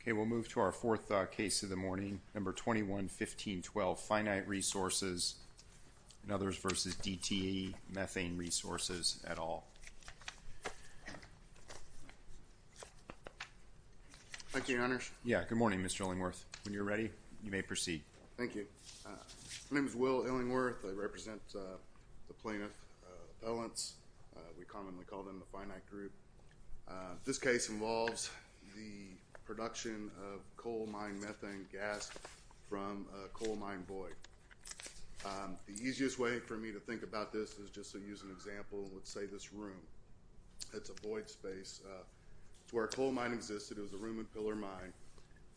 Okay, we'll move to our fourth case of the morning, No. 21-1512, Finite Resources, and others v. DTE Methane Resources, et al. Thank you, Your Honors. Yeah, good morning, Mr. Illingworth. When you're ready, you may proceed. Thank you. My name is Will Illingworth. I represent the plaintiff appellants. We commonly call them the Finite Group. This case involves the production of coal mine methane gas from a coal mine void. The easiest way for me to think about this is just to use an example, and let's say this room. It's a void space. It's where a coal mine existed. It was a room and pillar mine,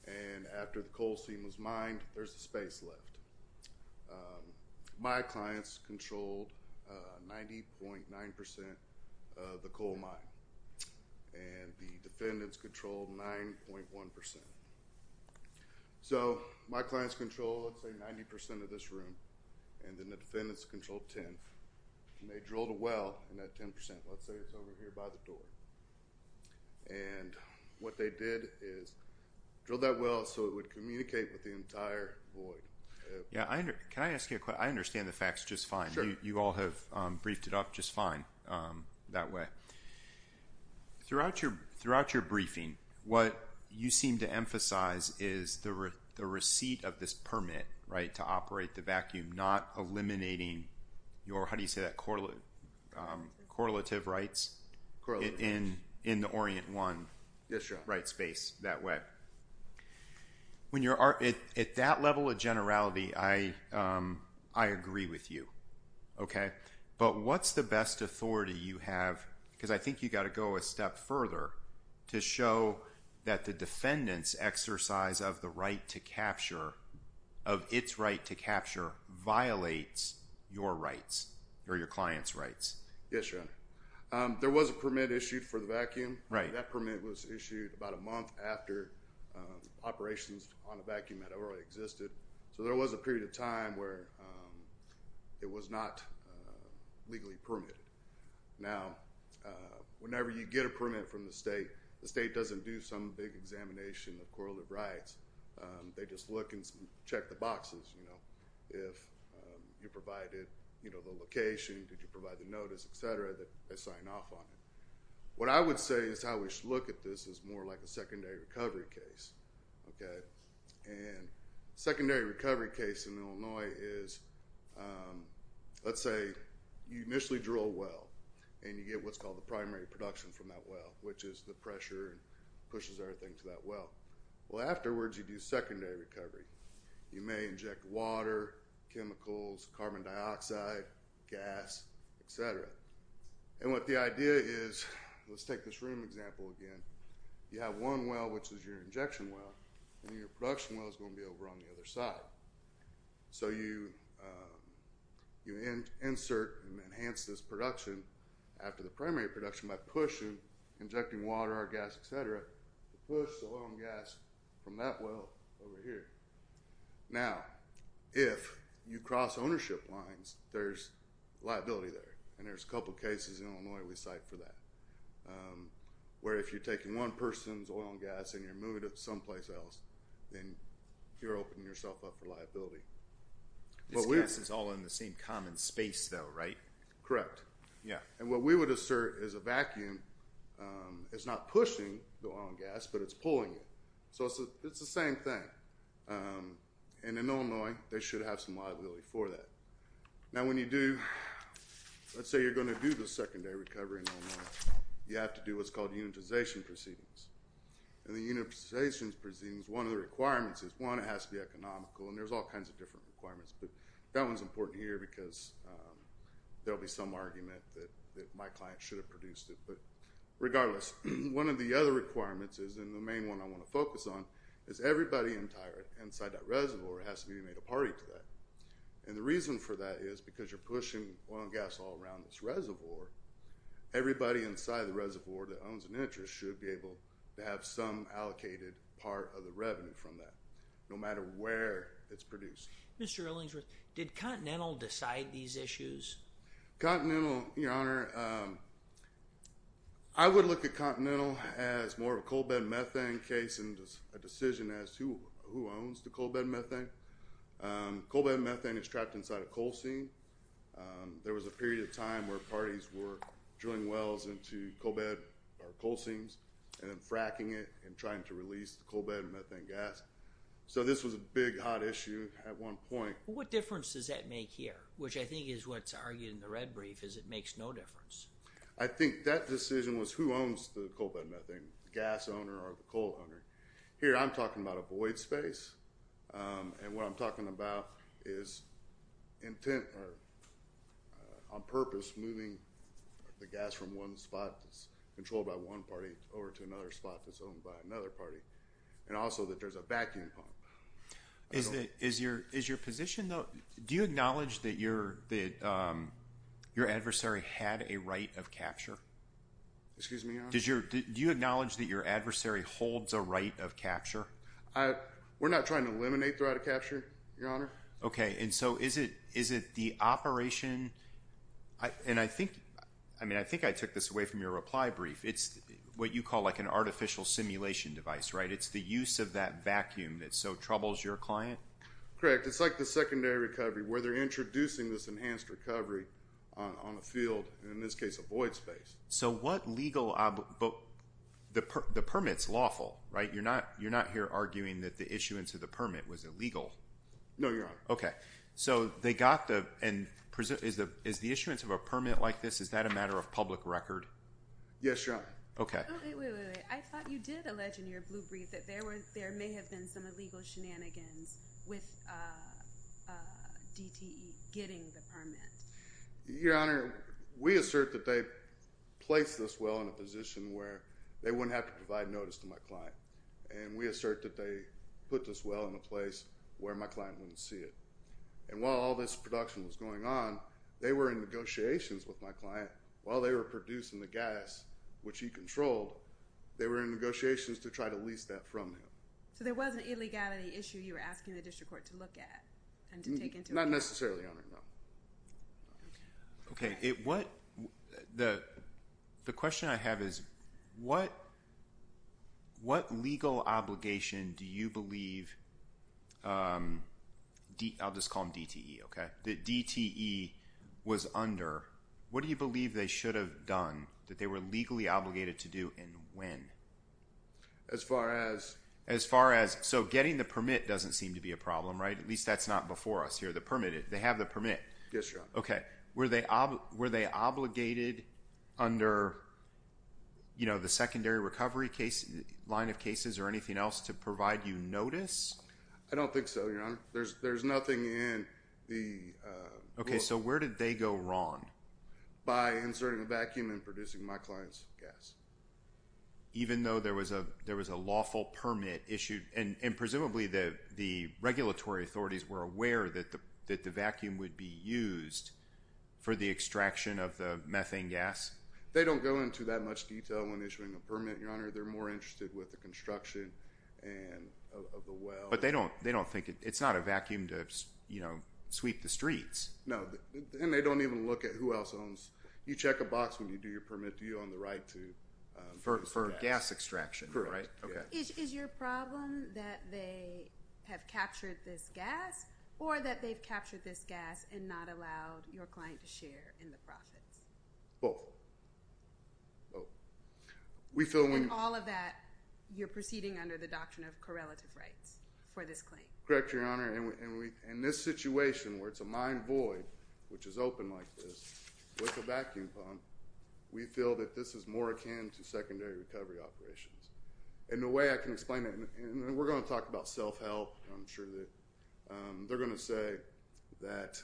and after the coal seam was mined, there's a space left. My clients controlled 90.9% of the coal mine, and the defendants controlled 9.1%. So my clients controlled, let's say, 90% of this room, and then the defendants controlled 10. They drilled a well in that 10%, let's say it's over here by the door. And what they did is drilled that well so it would communicate with the entire void. Yeah, can I ask you a question? I understand the facts just fine. You all have briefed it up just fine that way. Throughout your briefing, what you seem to emphasize is the receipt of this permit, right, to operate the vacuum, not eliminating your, how do you say that, correlative rights in the Orient 1 rights space that way. When you're, at that level of generality, I agree with you, okay? But what's the best authority you have, because I think you've got to go a step further, to show that the defendant's exercise of the right to capture, of its right to capture violates your rights, or your client's rights? Yes, Your Honor. There was a permit issued for the vacuum. That permit was issued about a month after operations on the vacuum had already existed. So there was a period of time where it was not legally permitted. Now, whenever you get a permit from the state, the state doesn't do some big examination of correlative rights. They just look and check the boxes, you know, if you provided the location, did you provide the notice, et cetera, that they sign off on it. What I would say is how we should look at this is more like a secondary recovery case, okay? And secondary recovery case in Illinois is, let's say, you initially drill a well, and you get what's called the primary production from that well, which is the pressure and pushes everything to that well. Well, afterwards, you do secondary recovery. You may inject water, chemicals, carbon dioxide, gas, et cetera. And what the idea is, let's take this room example again, you have one well, which is your injection well, and your production well is going to be over on the other side. So you insert and enhance this production after the primary production by pushing, injecting water, our gas, et cetera, to push the oil and gas from that well over here. Now, if you cross ownership lines, there's liability there, and there's a couple of cases in Illinois we cite for that, where if you're taking one person's oil and gas and you're moving it someplace else, then you're opening yourself up for liability. This gas is all in the same common space, though, right? Correct. Yeah. And what we would assert is a vacuum is not pushing the oil and gas, but it's pulling it. So it's the same thing. And in Illinois, they should have some liability for that. Now when you do, let's say you're going to do the secondary recovery in Illinois, you have to do what's called unitization proceedings. And the unitization proceedings, one of the requirements is, one, it has to be economical, and there's all kinds of different requirements, but that one's important here because there'll be some argument that my client should have produced it. But regardless, one of the other requirements is, and the main one I want to focus on, is everybody inside that reservoir has to be made a party to that. And the reason for that is because you're pushing oil and gas all around this reservoir, everybody inside the reservoir that owns an interest should be able to have some allocated part of the revenue from that, no matter where it's produced. Mr. Ellingworth, did Continental decide these issues? Continental, your honor, I would look at Continental as more of a coal bed methane case and a decision as to who owns the coal bed methane. Coal bed methane is trapped inside a coal seam. There was a period of time where parties were drilling wells into coal bed or coal seams and then fracking it and trying to release the coal bed methane gas. So this was a big, hot issue at one point. What difference does that make here, which I think is what's argued in the red brief, is it makes no difference. I think that decision was who owns the coal bed methane, the gas owner or the coal owner. Here I'm talking about a void space, and what I'm talking about is intent or on purpose moving the gas from one spot that's controlled by one party over to another spot that's owned by another party, and also that there's a vacuum pump. Is your position, though, do you acknowledge that your adversary had a right of capture? Excuse me, your honor? Do you acknowledge that your adversary holds a right of capture? We're not trying to eliminate the right of capture, your honor. Okay, and so is it the operation, and I think I took this away from your reply brief. It's what you call like an artificial simulation device, right? It's the use of that vacuum that so troubles your client? Correct. It's like the secondary recovery where they're introducing this enhanced recovery on a field, and in this case a void space. So what legal, the permit's lawful, right? You're not here arguing that the issuance of the permit was illegal. No, your honor. Okay. So they got the, and is the issuance of a permit like this, is that a matter of public record? Yes, your honor. Okay. Wait, wait, wait, wait. I thought you did allege in your blue brief that there may have been some illegal shenanigans with DTE getting the permit. Your honor, we assert that they placed us well in a position where they wouldn't have to provide notice to my client, and we assert that they put this well in a place where my client wouldn't see it. And while all this production was going on, they were in negotiations with my client while they were producing the gas, which he controlled, they were in negotiations to try to lease that from him. So there was an illegality issue you were asking the district court to look at and to take into account? Not necessarily, your honor, no. Okay. What, the question I have is, what legal obligation do you believe, I'll just call them DTE, okay? That DTE was under, what do you believe they should have done that they were legally obligated to do and when? As far as? As far as, so getting the permit doesn't seem to be a problem, right? At least that's not before us here, the permit, they have the permit. Yes, your honor. Okay. Were they obligated under, you know, the secondary recovery line of cases or anything else to provide you notice? I don't think so, your honor. There's nothing in the... Okay, so where did they go wrong? By inserting a vacuum and producing my client's gas. Even though there was a lawful permit issued and presumably the regulatory authorities were aware that the vacuum would be used for the extraction of the methane gas? They don't go into that much detail when issuing a permit, your honor. They're more interested with the construction of the well. But they don't think, it's not a vacuum to, you know, sweep the streets. No, and they don't even look at who else owns, you check a box when you do your permit, do you own the right to... For gas extraction, right? Correct. Is your problem that they have captured this gas or that they've captured this gas and not allowed your client to share in the profits? Both. Both. And in all of that, you're proceeding under the doctrine of correlative rights? For this claim. Correct, your honor. And in this situation where it's a mine void, which is open like this, with a vacuum pump, we feel that this is more akin to secondary recovery operations. And the way I can explain it, and we're going to talk about self-help, I'm sure that they're going to say that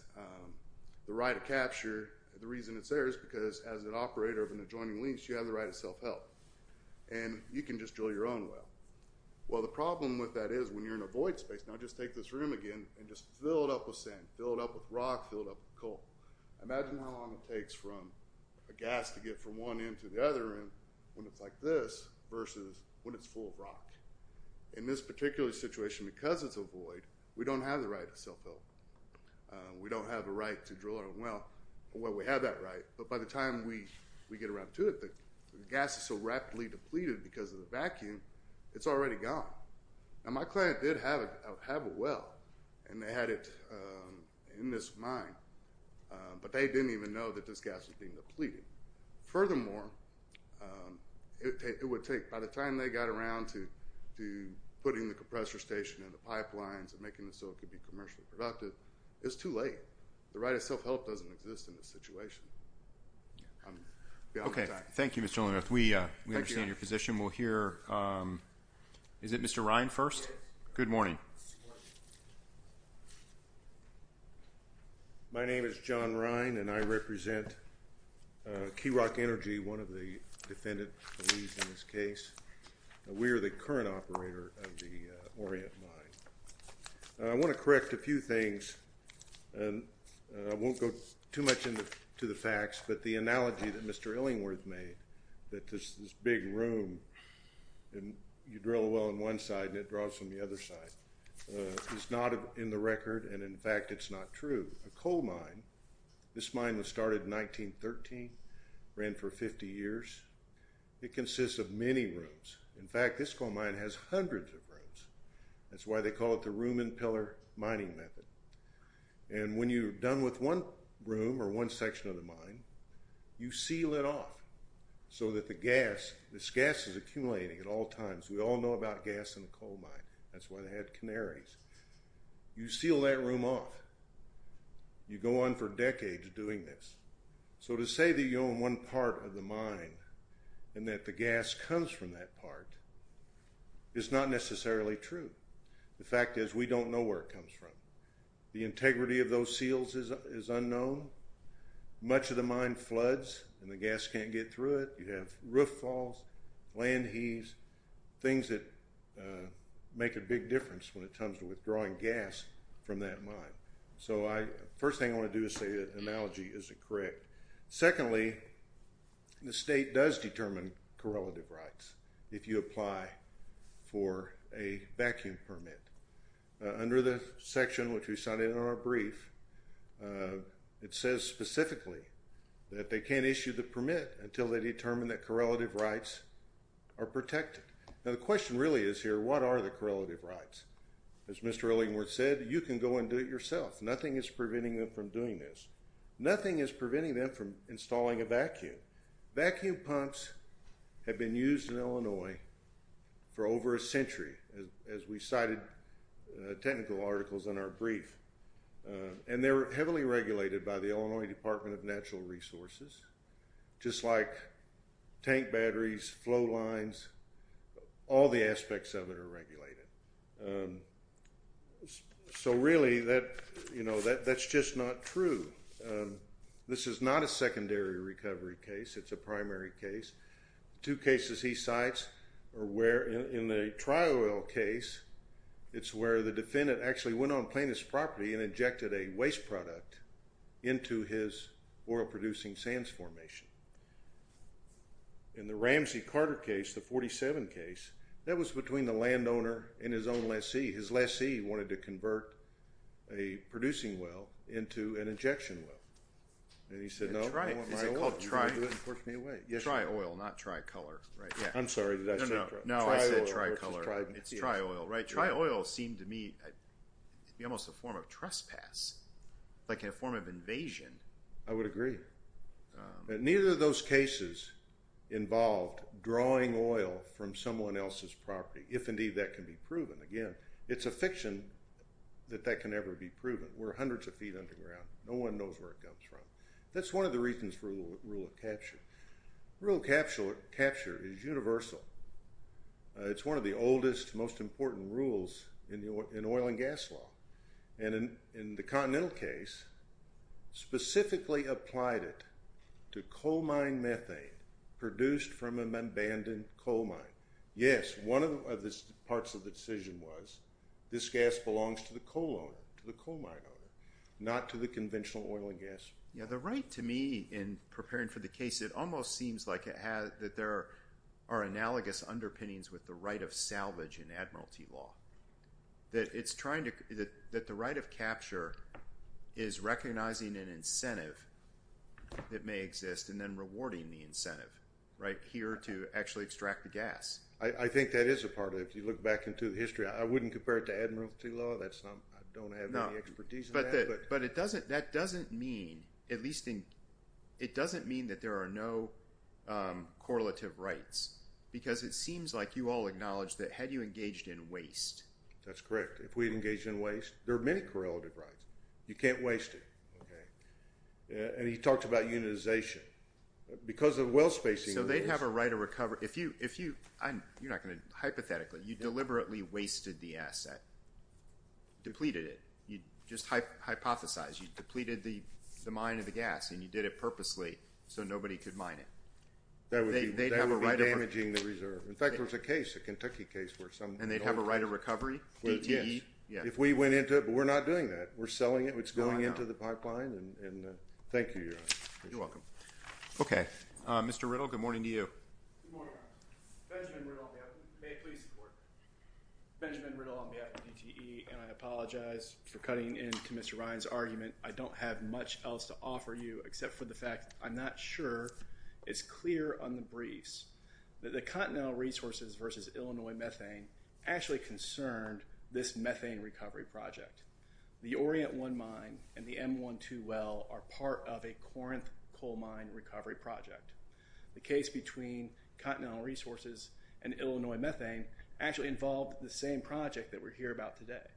the right to capture, the reason it's there is because as an operator of an adjoining lease, you have the right to self-help. And you can just drill your own well. Well, the problem with that is when you're in a void space, now just take this room again and just fill it up with sand, fill it up with rock, fill it up with coal. Imagine how long it takes for a gas to get from one end to the other end when it's like this versus when it's full of rock. In this particular situation, because it's a void, we don't have the right to self-help. We don't have the right to drill our own well. Well, we have that right, but by the time we get around to it, the gas is so rapidly depleted because of the vacuum, it's already gone. Now, my client did have a well, and they had it in this mine, but they didn't even know that this gas was being depleted. Furthermore, it would take, by the time they got around to putting the compressor station in the pipelines and making it so it could be commercially productive, it's too late. The right to self-help doesn't exist in this situation. Okay. Thank you, Mr. Linnerth. We understand your position. We'll hear, is it Mr. Rhine first? Good morning. My name is John Rhine, and I represent Keyrock Energy, one of the defendants in this case. We are the current operator of the Orient Mine. I want to correct a few things. I won't go too much into the facts, but the analogy that Mr. Illingworth made, that this big room, and you drill a well on one side, and it draws from the other side, is not in the record, and in fact, it's not true. A coal mine, this mine was started in 1913, ran for 50 years. It consists of many rooms. In fact, this coal mine has hundreds of rooms. That's why they call it the room and pillar mining method. And when you're done with one room or one section of the mine, you seal it off so that the gas, this gas is accumulating at all times. We all know about gas in a coal mine. That's why they had canaries. You seal that room off. You go on for decades doing this. So to say that you own one part of the mine and that the gas comes from that part is not necessarily true. The fact is we don't know where it comes from. The integrity of those seals is unknown. Much of the mine floods, and the gas can't get through it. You have roof falls, land heaves, things that make a big difference when it comes to withdrawing gas from that mine. So first thing I want to do is say the analogy is correct. Secondly, the state does determine correlative rights if you apply for a vacuum permit. Under the section which we cited in our brief, it says specifically that they can't issue the permit until they determine that correlative rights are protected. Now the question really is here, what are the correlative rights? As Mr. Ellingworth said, you can go and do it yourself. Nothing is preventing them from doing this. Nothing is preventing them from installing a vacuum. Vacuum pumps have been used in Illinois for over a century, as we cited technical articles in our brief. And they're heavily regulated by the Illinois Department of Natural Resources, just like tank batteries, flow lines, all the aspects of it are regulated. So really, that's just not true. This is not a secondary recovery case. It's a primary case. Two cases he cites are where in the tri-oil case, it's where the defendant actually went on plaintiff's property and injected a waste product into his oil-producing sands formation. In the Ramsey-Carter case, the 47 case, that was between the landowner and his own lessee. His lessee wanted to convert a producing well into an injection well. And he said, no, I want my oil. Tri-oil, not tri-color. I'm sorry, did I say tri-oil? No, I said tri-color. It's tri-oil, right? Tri-oil seemed to me to be almost a form of trespass, like a form of invasion. I would agree. Neither of those cases involved drawing oil from someone else's property, if indeed that can be proven. Again, it's a fiction that that can ever be proven. We're hundreds of feet underground. No one knows where it comes from. That's one of the reasons for the rule of capture. Rule of capture is universal. It's one of the oldest, most important rules in oil and gas law. And in the Continental case, specifically applied it to coal mine methane produced from an abandoned coal mine. Yes, one of the parts of the decision was this gas belongs to the coal owner, to the coal mine owner, not to the conventional oil and gas. Yeah, the right to me in preparing for the case, it almost seems like there are analogous underpinnings with the right of salvage in admiralty law. That the right of capture is recognizing an incentive that may exist and then rewarding the incentive, right, here to actually extract the gas. I think that is a part of it. If you look back into the history, I wouldn't compare it to admiralty law. I don't have any expertise in that. But it doesn't, that doesn't mean, at least in, it doesn't mean that there are no correlative rights. Because it seems like you all acknowledge that had you engaged in waste. That's correct. If we engage in waste, there are many correlative rights. You can't waste it. Okay. And he talked about unionization. Because of well spacing. So they'd have a right to recover. If you, if you, you're not going to, hypothetically, you deliberately wasted the asset. Depleted it. You just hypothesize. You depleted the mine of the gas. And you did it purposely so nobody could mine it. That would be damaging the reserve. In fact, there was a case, a Kentucky case where some. And they'd have a right of recovery, DTE. Yes. If we went into it. But we're not doing that. We're selling it. It's going into the pipeline. And thank you, Your Honor. You're welcome. Okay. Mr. Riddle, good morning to you. Good morning, Your Honor. Benjamin Riddle on behalf of, may it please the court. Benjamin Riddle on behalf of DTE. And I apologize for cutting into Mr. Ryan's argument. I don't have much else to offer you except for the fact I'm not sure it's clear on the briefs. That the Continental Resources versus Illinois Methane actually concerned this methane recovery project. The Orient 1 mine and the M1-2 well are part of a Corinth coal mine recovery project. The case between Continental Resources and Illinois Methane actually involved the same project that we're here about today.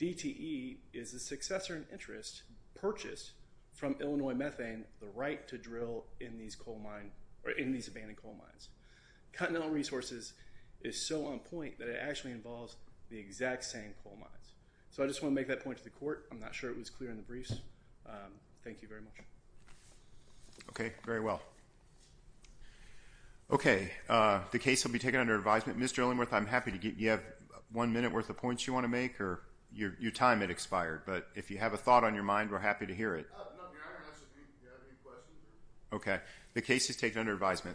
DTE is the successor in interest purchased from Illinois Methane the right to drill in these coal mines, or in these abandoned coal mines. Continental Resources is so on point that it actually involves the exact same coal mines. So I just want to make that point to the court. I'm not sure it was clear in the briefs. Thank you very much. Okay, very well. Okay, the case will be taken under advisement. Mr. Olingworth, I'm happy to give you one minute worth of points you want to make or your time had expired. But if you have a thought on your mind, we're happy to hear it. Okay, the case is taken under advisement.